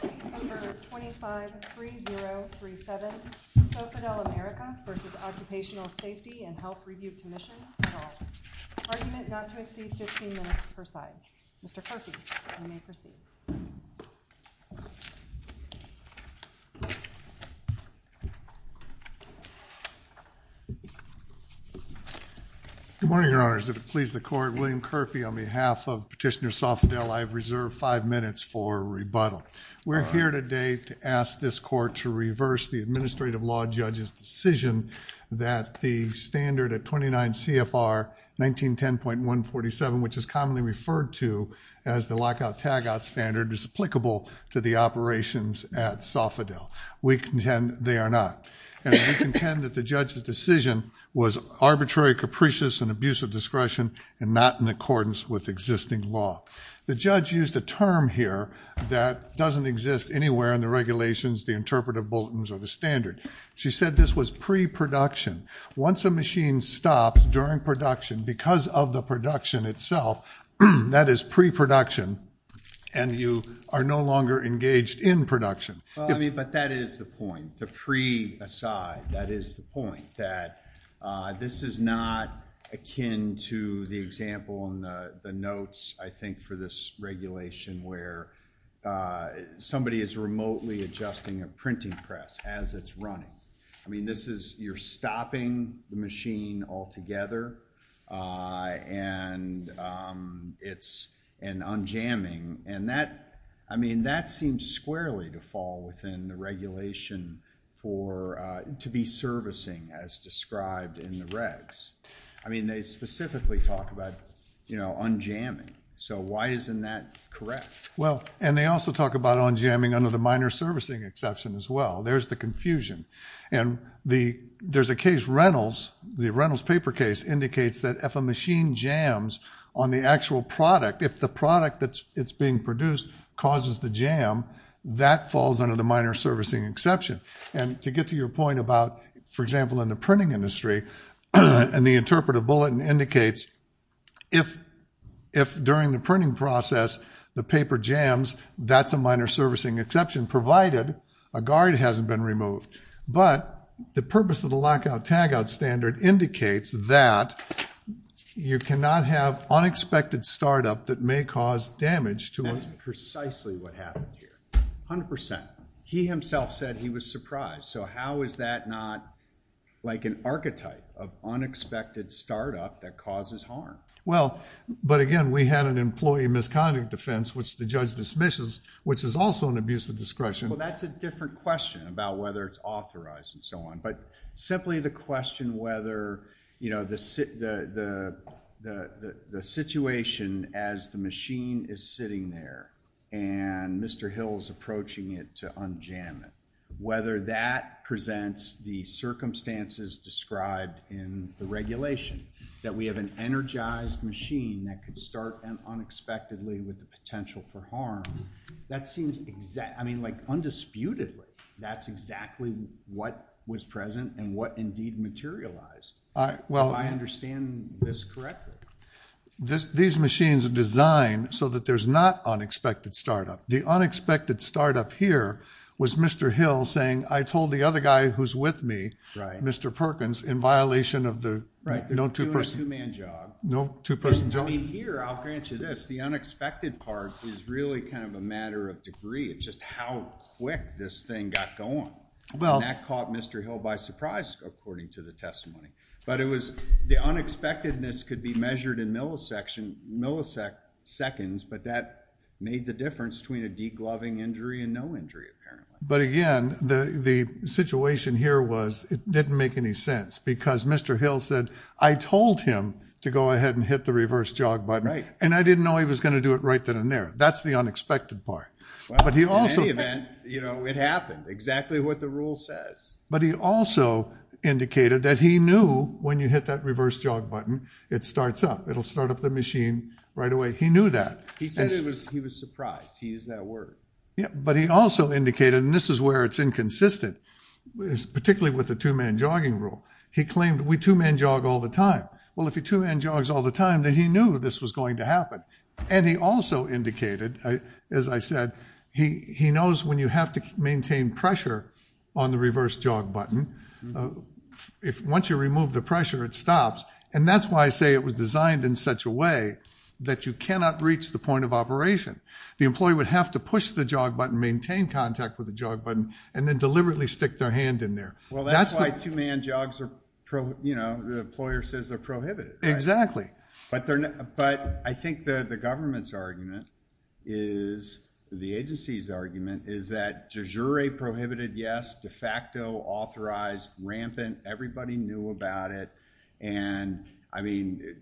Case number 253037, Sofidel America v. Occupational Safety and Health Review Commission. Argument not to exceed 15 minutes per side. Mr. Kerfee, you may proceed. Good morning, Your Honors. If it pleases the Court, William Kerfee, on behalf of Petitioner Sofidel, I have reserved five minutes for rebuttal. We're here today to ask this Court to reverse the administrative law judge's decision that the standard at 29 CFR 1910.147, which is commonly referred to as the lockout-tagout standard, is applicable to the operations at Sofidel. We contend they are not. And we contend that the judge's decision was arbitrary capricious and abuse of discretion and not in accordance with existing law. The judge used a term here that doesn't exist anywhere in the regulations, the interpretive bulletins or the standard. She said this was pre-production. Once a machine stops during production because of the production itself, that is pre-production, and you are no longer engaged in production. Well, I mean, but that is the point. The pre aside, that is the point, that this is not akin to the example in the notes, I think, for this regulation where somebody is remotely adjusting a printing press as it's running. I mean, this is you're stopping the machine altogether, and it's an unjamming. And that, I mean, that seems squarely to fall within the regulation for, to be servicing as described in the regs. I mean, they specifically talk about, you know, unjamming. So why isn't that correct? Well, and they also talk about unjamming under the minor servicing exception as well. There's the confusion. And there's a case, Reynolds, the Reynolds paper case indicates that if a machine jams on the actual product, if the product that's being produced causes the jam, that falls under the minor servicing exception. And to get to your point about, for example, in the printing industry, and the interpretive bulletin indicates if during the printing process the paper jams, that's a minor servicing exception, provided a guard hasn't been removed. But the purpose of the lockout-tagout standard indicates that you cannot have unexpected startup that may cause damage to us. That's precisely what happened here. 100%. He himself said he was surprised. So how is that not like an archetype of unexpected startup that causes harm? Well, but again, we had an employee misconduct defense, which the judge dismisses, which is also an abuse of discretion. Well, that's a different question about whether it's authorized and so on. But simply the question whether the situation as the machine is sitting there, and Mr. Hill's approaching it to unjam it, whether that presents the circumstances described in the regulation, that we have an energized machine that could start unexpectedly with the potential for harm, that seems exact. I mean, like, undisputedly, that's exactly what was present and what indeed materialized. Well, I understand this correctly. These machines are designed so that there's not unexpected startup. The unexpected startup here was Mr. Hill saying, I told the other guy who's with me, Mr. Perkins, in violation of the two-person job. Right, they're doing a two-man job. No two-person job. I mean, here, I'll grant you this. The unexpected part is really kind of a matter of degree. It's just how quick this thing got going. And that caught Mr. Hill by surprise, according to the testimony. But it was, the unexpectedness could be measured in milliseconds, but that made the difference between a degloving injury and no injury, apparently. But again, the situation here was, it didn't make any sense. Because Mr. Hill said, I told him to go ahead and hit the reverse jog button. And I didn't know he was going to do it right then and there. That's the unexpected part. Well, in any event, it happened. Exactly what the rule says. But he also indicated that he knew when you hit that reverse jog button, it starts up. It'll start up the machine right away. He knew that. He said he was surprised. He used that word. But he also indicated, and this is where it's inconsistent, particularly with the two-man jog all the time. Well, if he two-man jogs all the time, then he knew this was going to happen. And he also indicated, as I said, he knows when you have to maintain pressure on the reverse jog button, once you remove the pressure, it stops. And that's why I say it was designed in such a way that you cannot reach the point of operation. The employee would have to push the jog button, maintain contact with the jog button, and then deliberately stick their hand in there. Well, that's why two-man jogs are, you know, the employer says they're prohibited. Exactly. But I think that the government's argument is, the agency's argument, is that de jure prohibited, yes, de facto authorized rampant. Everybody knew about it. And I mean,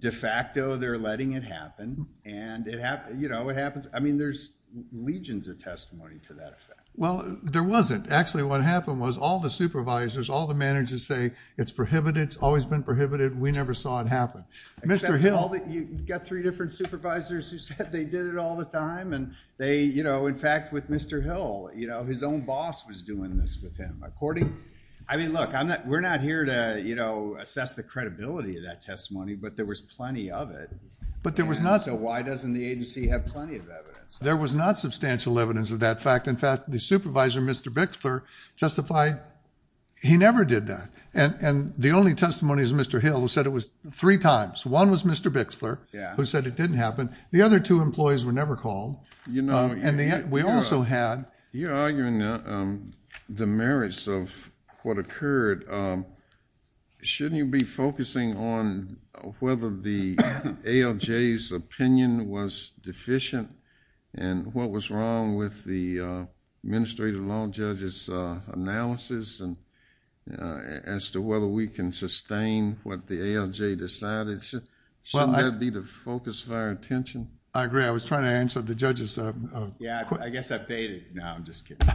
de facto, they're letting it happen. And it happens. I mean, there's legions of testimony to that effect. Well, there wasn't. Actually, what happened was all the supervisors, all the managers say it's prohibited, it's always been prohibited. We never saw it happen. Except all the, you've got three different supervisors who said they did it all the time. And they, you know, in fact, with Mr. Hill, you know, his own boss was doing this with him. According, I mean, look, we're not here to, you know, assess the credibility of that testimony, but there was plenty of it. But there was not. So why doesn't the agency have plenty of evidence? There was not substantial evidence of that fact. In fact, the supervisor, Mr. Bixler, testified he never did that. And the only testimony is Mr. Hill, who said it was three times. One was Mr. Bixler, who said it didn't happen. The other two employees were never called. You know, and we also had. You're arguing the merits of what occurred. Shouldn't you be focusing on whether the ALJ's opinion was deficient and what was wrong with the administrative law judge's analysis as to whether we can sustain what the ALJ decided? Shouldn't that be the focus of our attention? I agree. I was trying to answer the judge's... Yeah, I guess I paid it. No, I'm just kidding.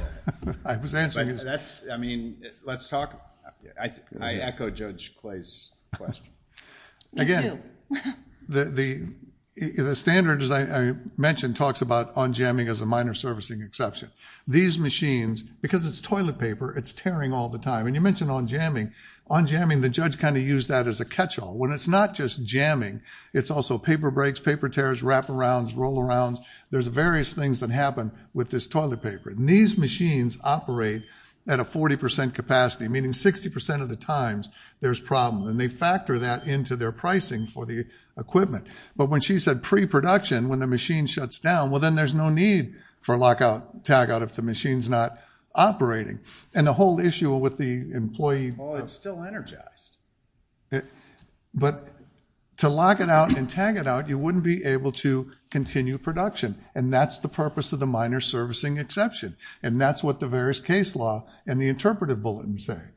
I was answering his... That's... I mean, let's talk... I echo Judge Clay's question. Again, the standard, as I mentioned, talks about on-jamming as a minor servicing exception. These machines, because it's toilet paper, it's tearing all the time. And you mentioned on-jamming. On-jamming, the judge kind of used that as a catch-all. When it's not just jamming, it's also paper breaks, paper tears, wraparounds, roll-arounds. There's various things that happen with this toilet paper. And these machines operate at a 40% capacity, meaning 60% of the times there's problems. And they factor that into their pricing for the equipment. But when she said pre-production, when the machine shuts down, well, then there's no need for lockout, tagout if the machine's not operating. And the whole issue with the employee... Well, it's still energized. But to lock it out and tag it out, you wouldn't be able to continue production. And that's the purpose of the minor servicing exception. And that's what the various case law and the interpretive bulletin say,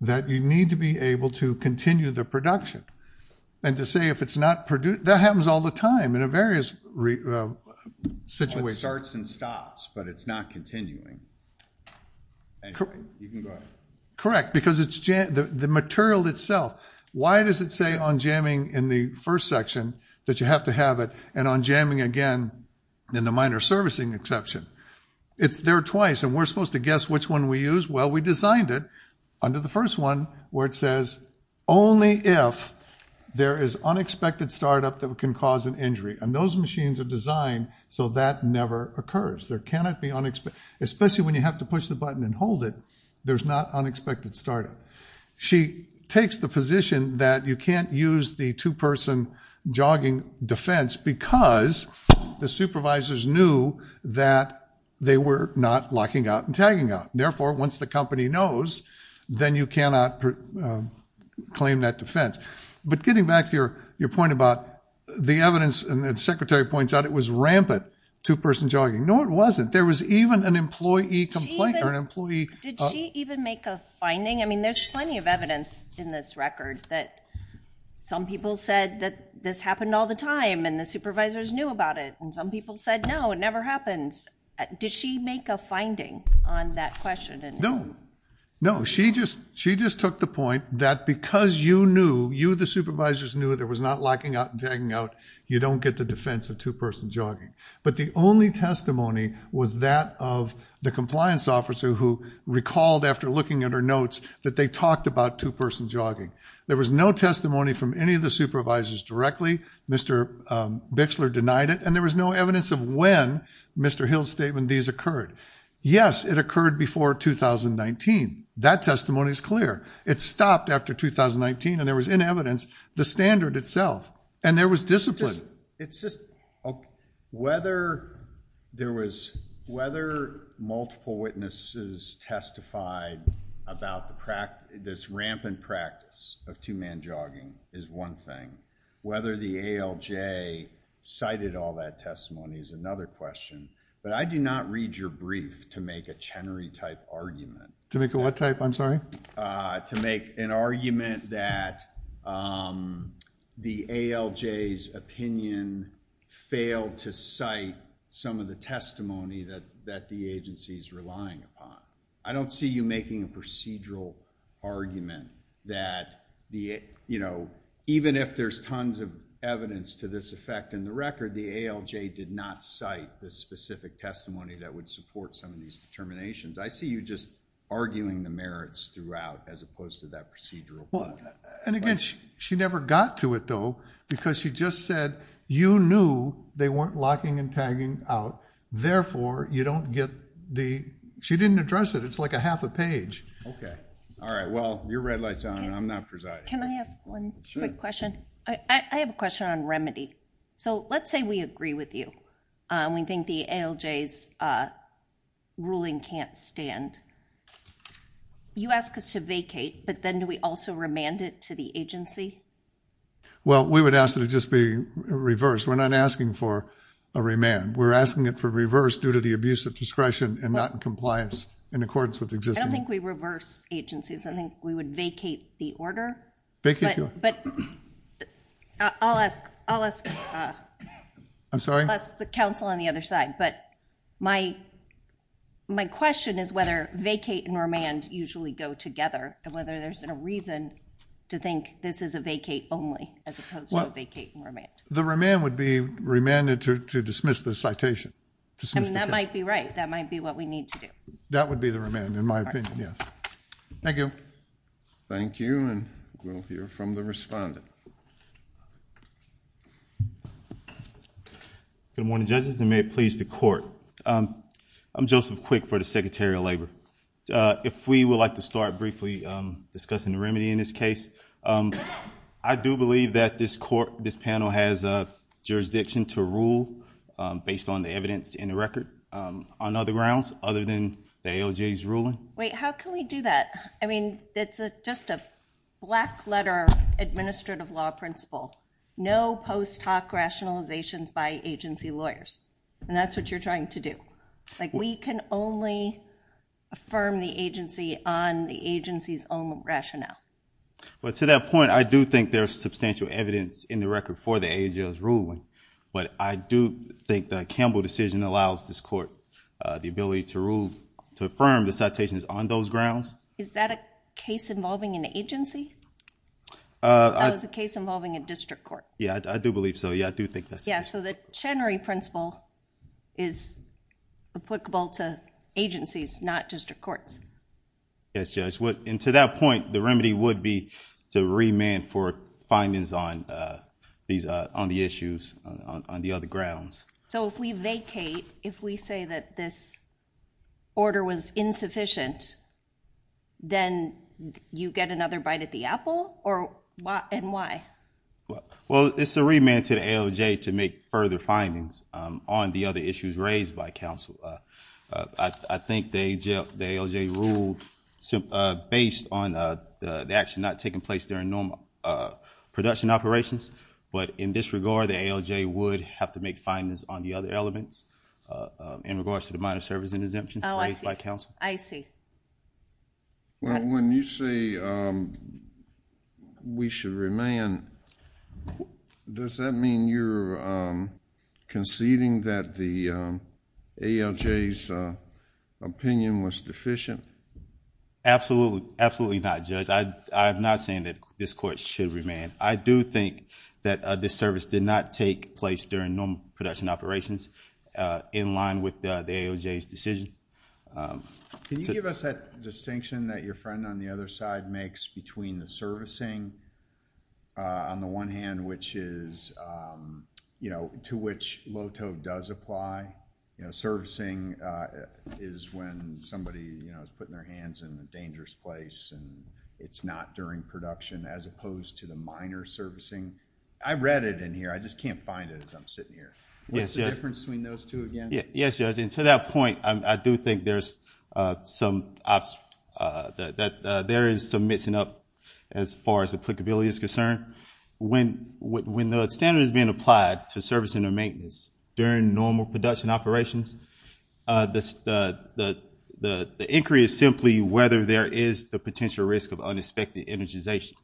that you need to be able to continue the production. And to say if it's not... That happens all the time in various situations. It starts and stops, but it's not continuing. You can go ahead. Correct. Because the material itself... Why does it say on-jamming in the first section that you have to have it, and on-jamming again in the minor servicing exception? It's there twice, and we're supposed to guess which one we use? Well, we designed it under the first one, where it says, only if there is unexpected startup that can cause an injury. And those machines are designed so that never occurs. There cannot be unexpected... Especially when you have to push the button and hold it, there's not unexpected startup. She takes the position that you can't use the two-person jogging defense because the supervisors knew that they were not locking out and tagging out. Therefore, once the company knows, then you cannot claim that defense. But getting back to your point about the evidence, and the secretary points out it was rampant two-person jogging. No, it wasn't. There was even an employee complaint or an employee... Did she even make a finding? I mean, there's plenty of evidence in this record that some people said that this happened all the time and the supervisors knew about it, and some people said, no, it never happens. Did she make a finding on that question? No. No. She just took the point that because you knew, you, the supervisors, knew there was not locking out and tagging out, you don't get the defense of two-person jogging. But the only testimony was that of the compliance officer who recalled after looking at her notes that they talked about two-person jogging. There was no testimony from any of the supervisors directly. Mr. Bixler denied it, and there was no evidence of when, Mr. Hill's statement, these occurred. Yes, it occurred before 2019. That testimony is clear. It stopped after 2019, and there was in evidence the standard itself, and there was discipline. Whether there was... Whether multiple witnesses testified about this rampant practice of two-man jogging is one thing. Whether the ALJ cited all that testimony is another question. But I do not read your brief to make a Chenery-type argument. To make a what type, I'm sorry? To make an argument that the ALJ's opinion failed to cite some of the testimony that the agency's relying upon. I don't see you making a procedural argument that the, you know, even if there's tons of evidence to this effect in the record, the ALJ did not cite the specific testimony that would support some of these determinations. I see you just arguing the merits throughout as opposed to that procedural point. Well, and again, she never got to it, though, because she just said you knew they weren't locking and tagging out. Therefore, you don't get the... She didn't address it. It's like a half a page. Okay. All right. Well, your red light's on. I'm not presiding. Can I ask one quick question? I have a question on remedy. So let's say we agree with you. We think the ALJ's ruling can't stand. You ask us to vacate, but then do we also remand it to the agency? Well, we would ask that it just be reversed. We're not asking for a remand. We're asking it for reverse due to the abuse of discretion and not in compliance in accordance with existing... I don't think we reverse agencies. I think we would vacate the order. Vacate the order. But I'll ask... I'm sorry? I'll ask the council on the other side. But my question is whether vacate and remand usually go together and whether there's a reason to think this is a vacate only as opposed to a vacate and remand. The remand would be remanded to dismiss the citation. I mean, that might be right. That might be what we need to do. That would be the remand, in my opinion. Yes. Thank you. Thank you. And we'll hear from the respondent. Good morning, judges, and may it please the court. I'm Joseph Quick for the Secretary of Labor. If we would like to start briefly discussing the remedy in this case. I do believe that this panel has a jurisdiction to rule based on the evidence in the record on other grounds other than the ALJ's ruling. Wait, how can we do that? I mean, it's just a black letter administrative law principle. No post hoc rationalizations by agency lawyers. And that's what you're trying to do. Like, we can only affirm the agency on the agency's own rationale. But to that point, I do think there's substantial evidence in the record for the ALJ's ruling. But I do think the Campbell decision allows this court the ability to rule, to affirm the citations on those grounds. Is that a case involving an agency? That was a case involving a district court. Yeah, I do believe so. Yeah, I do think that's the case. So the Chenery principle is applicable to agencies, not district courts. Yes, Judge. And to that point, the remedy would be to remand for findings on the issues on the other grounds. So if we vacate, if we say that this order was insufficient, then you get another bite at the apple? And why? Well, it's a remand to the ALJ to make further findings on the other issues raised by counsel. I think the ALJ ruled based on the action not taking place during normal production operations. But in this regard, the ALJ would have to make findings on the other elements in regards to the minor service and exemption raised by counsel. I see. Well, when you say we should remand, does that mean you're conceding that the ALJ's opinion was deficient? Absolutely. Absolutely not, Judge. I'm not saying that this court should remand. I do think that this service did not take place during normal production operations in line with the ALJ's decision. Can you give us that distinction that your friend on the other side makes between the servicing on the one hand, which is to which LOTO does apply? Servicing is when somebody is putting their hands in a dangerous place and it's not during production as opposed to the minor servicing. I read it in here. I just can't find it as I'm sitting here. What's the difference between those two again? Yes, Judge. To that point, I do think there is some missing up as far as applicability is concerned. When the standard is being applied to servicing or maintenance during normal production operations, the inquiry is simply whether there is the potential risk of unexpected energization.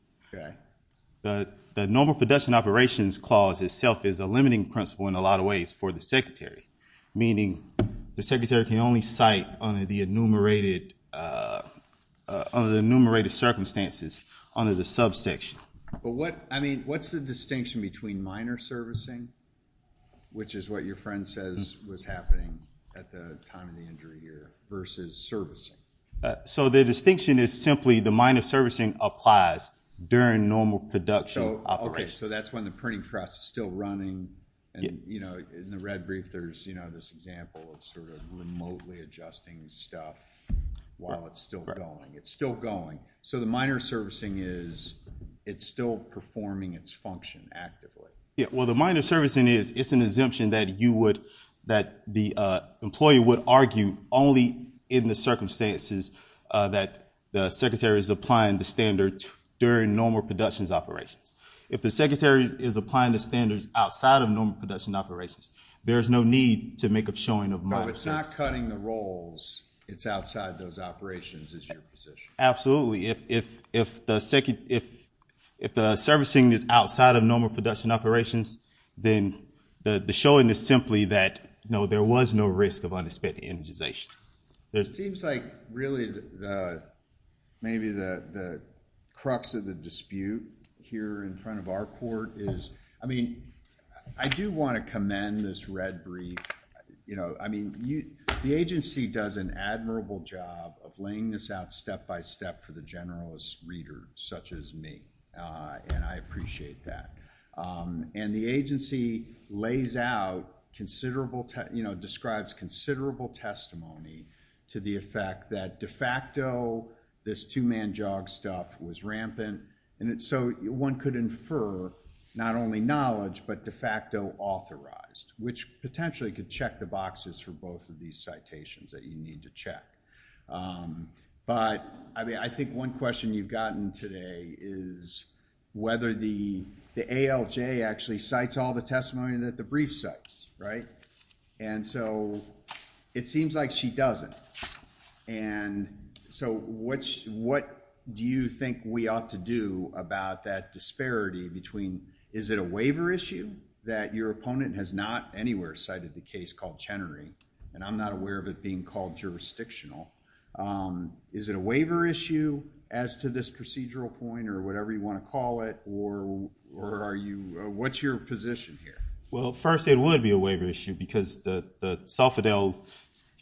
The normal production operations clause itself is a limiting principle in a lot of ways for the secretary, meaning the secretary can only cite under the enumerated circumstances under the subsection. What's the distinction between minor servicing, which is what your friend says was happening at the time of the injury here, versus servicing? The distinction is simply the minor servicing applies during normal production operations. That's when the printing press is still running. And in the red brief, there's this example of remotely adjusting stuff while it's still going. It's still going. So the minor servicing is it's still performing its function actively. Well, the minor servicing is it's an exemption that the employee would argue only in the circumstances that the secretary is applying the standard during normal productions operations. If the secretary is applying the standards outside of normal production operations, there is no need to make a showing of minor servicing. So it's not cutting the rolls. It's outside those operations is your position. Absolutely. If the servicing is outside of normal production operations, then the showing is simply that, no, there was no risk of unexpected energization. It seems like really maybe the crux of the dispute here in front of our court is, I mean, I do want to commend this red brief. You know, I mean, the agency does an admirable job of laying this out step by step for the generalist reader, such as me, and I appreciate that. And the agency lays out considerable, you know, describes considerable testimony to the effect that de facto, this two-man jog stuff was rampant. And so one could infer not only knowledge, but de facto authorized, which potentially could check the boxes for both of these citations that you need to check. But I mean, I think one question you've gotten today is whether the ALJ actually cites all the testimony that the brief cites, right? And so it seems like she doesn't. And so what do you think we ought to do about that disparity between, is it a waiver issue that your opponent has not anywhere cited the case called Chenery? And I'm not aware of it being called jurisdictional. Is it a waiver issue as to this procedural point or whatever you want to call it? Or are you, what's your position here? Well, first it would be a waiver issue because the Soffitel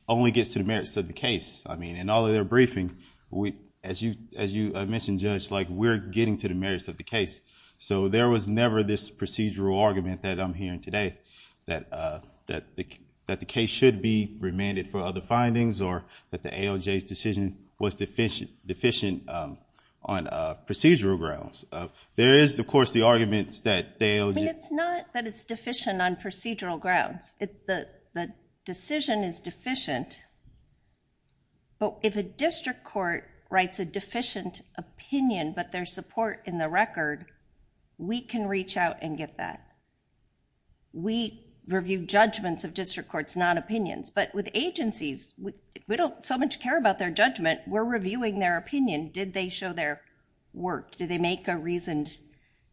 only gets to the merits of the case. I mean, in all of their briefing, as you mentioned, Judge, like we're getting to the merits of the case. So there was never this procedural argument that I'm hearing today that the case should be remanded for other findings or that the ALJ's decision was deficient on procedural grounds. There is, of course, the arguments that the ALJ- I mean, it's not that it's deficient on procedural grounds. The decision is deficient. But if a district court writes a deficient opinion, but there's support in the record, we can reach out and get that. We review judgments of district courts, not opinions. But with agencies, we don't so much care about their judgment. We're reviewing their opinion. Did they show their work? Did they make a reasoned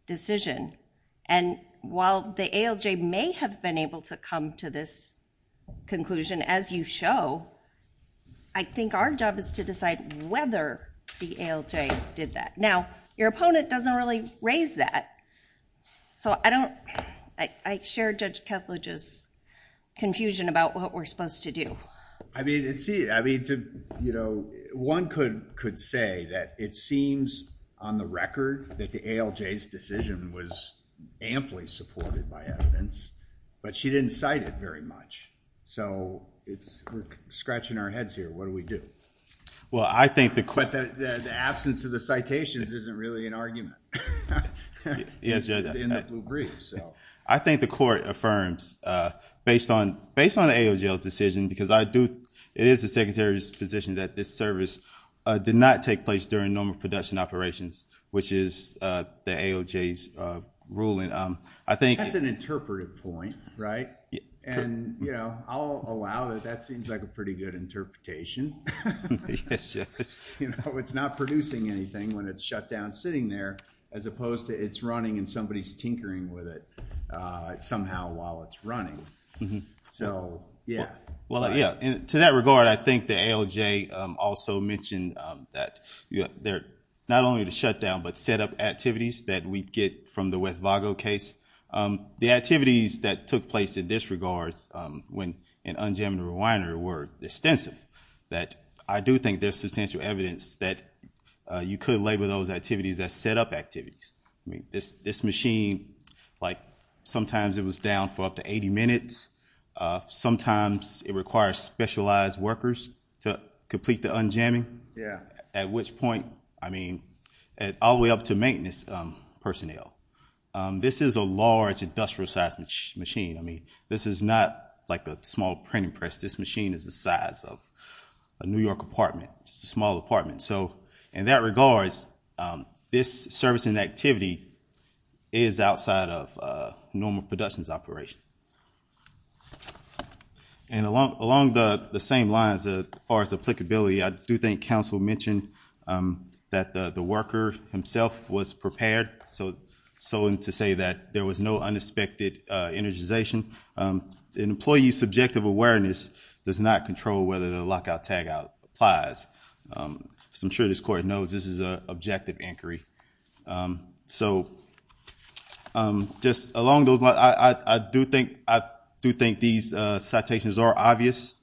decision? And while the ALJ may have been able to come to this conclusion, as you show, I think our job is to decide whether the ALJ did that. Now, your opponent doesn't really raise that. So I don't- I share Judge Kethledge's confusion about what we're supposed to do. I mean, one could say that it seems on the record that the ALJ's decision was amply supported by evidence, but she didn't cite it very much. So it's- we're scratching our heads here. What do we do? Well, I think the- But the absence of the citations isn't really an argument. Yes, Judge. In the blue brief, so. I think the court affirms, based on the ALJ's decision, because I do- it is the Secretary's position that this service did not take place during normal production operations, which is the ALJ's ruling. I think- That's an interpretive point, right? And, you know, I'll allow that. That seems like a pretty good interpretation. Yes, Judge. You know, it's not producing anything when it's shut down sitting there, as opposed to it's running and somebody's tinkering with it somehow while it's running. So, yeah. Well, yeah. To that regard, I think the ALJ also mentioned that they're not only to shut down, but set up activities that we get from the West Vago case. The activities that took place in this regard when in unjammed and rewinder were extensive, that I do think there's substantial evidence that you could label those activities as set up activities. I mean, this machine, like, sometimes it was down for up to 80 minutes. Sometimes it requires specialized workers to complete the unjamming. Yeah. At which point, I mean, all the way up to maintenance personnel. This is a large industrial sized machine. I mean, this is not like a small printing press. This machine is the size of a New York apartment, just a small apartment. So, in that regards, this servicing activity is outside of a normal productions operation. And along the same lines, as far as applicability, I do think counsel mentioned that the worker himself was prepared. So, to say that there was no unexpected energization. An employee's subjective awareness does not control whether the lockout tagout applies. So, I'm sure this court knows this is an objective inquiry. So, just along those lines, I do think these citations are obvious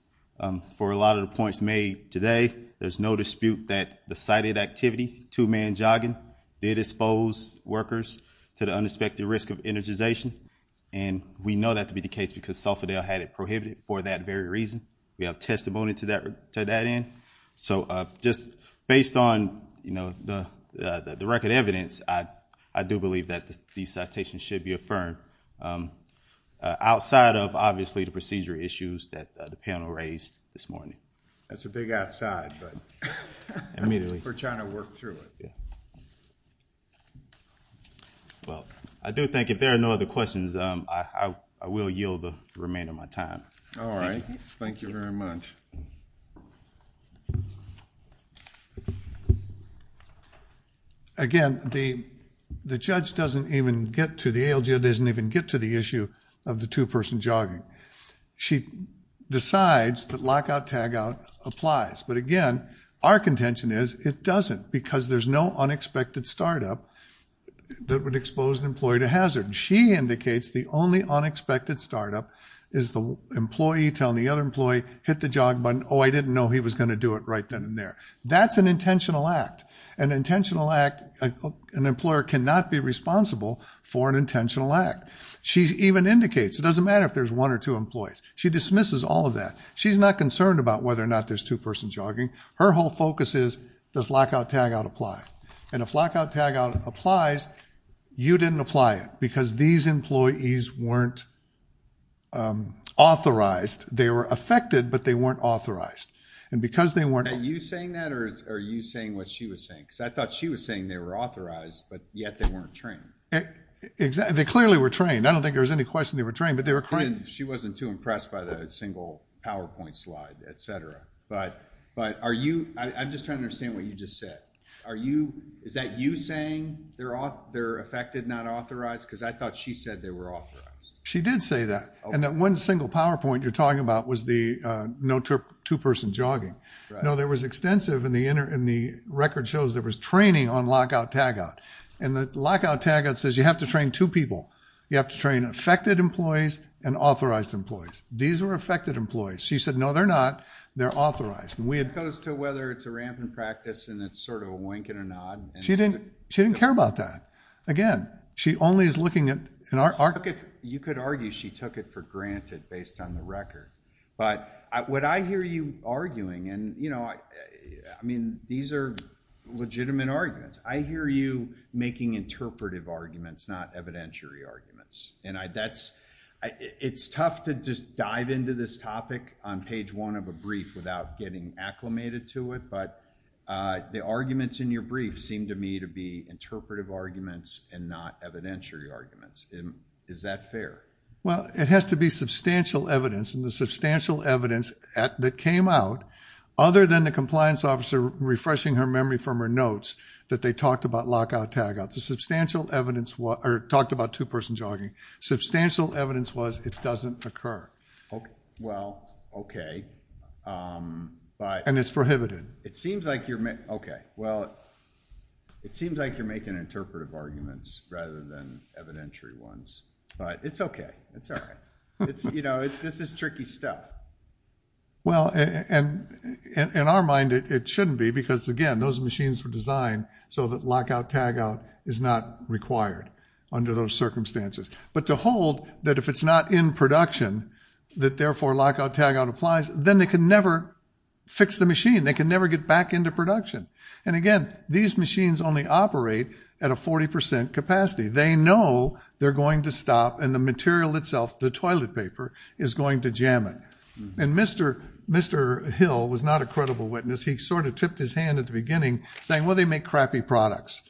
for a lot of the points made today. There's no dispute that the cited activity, two-man jogging, did expose workers to the unexpected risk of energization. And we know that to be the case because Salfordale had it prohibited for that very reason. We have testimony to that end. So, just based on, you know, the record evidence, I do believe that these citations should be affirmed outside of, obviously, the procedure issues that the panel raised this morning. That's a big outside, but we're trying to work through it. Well, I do think if there are no other questions, I will yield the remainder of my time. All right. Thank you very much. Again, the judge doesn't even get to, the ALGO doesn't even get to the issue of the two-person jogging. She decides that lockout-tagout applies. But again, our contention is it doesn't because there's no unexpected startup that would expose an employee to hazard. She indicates the only unexpected startup is the employee telling the other employee, hit the jog button, oh, I didn't know he was going to do it right then and there. That's an intentional act. An intentional act, an employer cannot be responsible for an intentional act. She even indicates it doesn't matter if there's one or two employees. She dismisses all of that. She's not concerned about whether or not there's two-person jogging. Her whole focus is, does lockout-tagout apply? And if lockout-tagout applies, you didn't apply it because these employees weren't authorized. They were affected, but they weren't authorized. And because they weren't- Are you saying that or are you saying what she was saying? Because I thought she was saying they were authorized, but yet they weren't trained. They clearly were trained. I don't think there was any question they were trained, but they were trained. She wasn't too impressed by the single PowerPoint slide, et cetera. But are you- I'm just trying to understand what you just said. Are you- Is that you saying they're affected, not authorized? Because I thought she said they were authorized. She did say that. And that one single PowerPoint you're talking about was the no two-person jogging. No, there was extensive in the record shows there was training on lockout-tagout. And the lockout-tagout says you have to train two people. You have to train affected employees and authorized employees. These are affected employees. She said, no, they're not. They're authorized. And we had- As opposed to whether it's a rampant practice and it's sort of a wink and a nod. She didn't care about that. Again, she only is looking at- She took it, you could argue she took it for granted based on the record. But what I hear you arguing and I mean, these are legitimate arguments. I hear you making interpretive arguments, not evidentiary arguments. And that's- It's tough to just dive into this topic on page one of a brief without getting acclimated to it. But the arguments in your brief seem to me to be interpretive arguments and not evidentiary arguments. Is that fair? Well, it has to be substantial evidence. And the substantial evidence that came out other than the compliance officer refreshing her memory from her notes that they talked about lockout-tagout. Substantial evidence was- or talked about two person jogging. Substantial evidence was it doesn't occur. Well, OK. But- And it's prohibited. It seems like you're- OK, well, it seems like you're making interpretive arguments rather than evidentiary ones. But it's OK. It's all right. You know, this is tricky stuff. Well, and in our mind, it shouldn't be because again, those machines were designed so that lockout-tagout is not required under those circumstances. But to hold that if it's not in production, that therefore lockout-tagout applies, then they can never fix the machine. They can never get back into production. And again, these machines only operate at a 40% capacity. They know they're going to stop and the material itself, the toilet paper, is going to jam it. And Mr. Hill was not a credible witness. He sort of tipped his hand at the beginning saying, well, they make crappy products.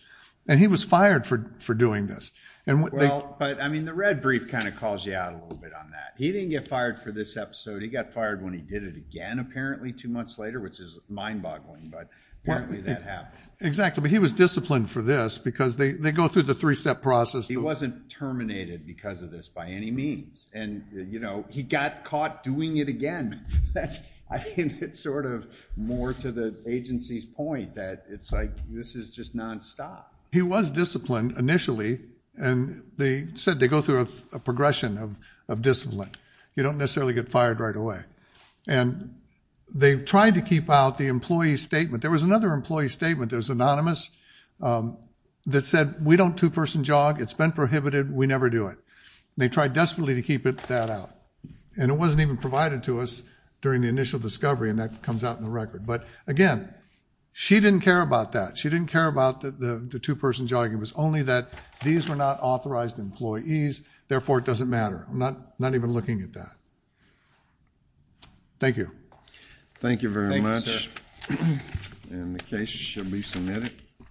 And he was fired for doing this. Well, but I mean, the red brief kind of calls you out a little bit on that. He didn't get fired for this episode. He got fired when he did it again, apparently two months later, which is mind boggling. But apparently that happened. Exactly. But he was disciplined for this because they go through the three-step process. He wasn't terminated because of this by any means. And, you know, he got caught doing it again. I think it's sort of more to the agency's point that it's like this is just nonstop. He was disciplined initially and they said they go through a progression of discipline. You don't necessarily get fired right away. And they tried to keep out the employee statement. There was another employee statement that was anonymous that said, we don't two-person jog. It's been prohibited. We never do it. They tried desperately to keep that out. And it wasn't even provided to us during the initial discovery. And that comes out in the record. But again, she didn't care about that. She didn't care about the two-person jogging. It was only that these were not authorized employees. Therefore, it doesn't matter. I'm not even looking at that. Thank you. Thank you very much. And the case shall be submitted.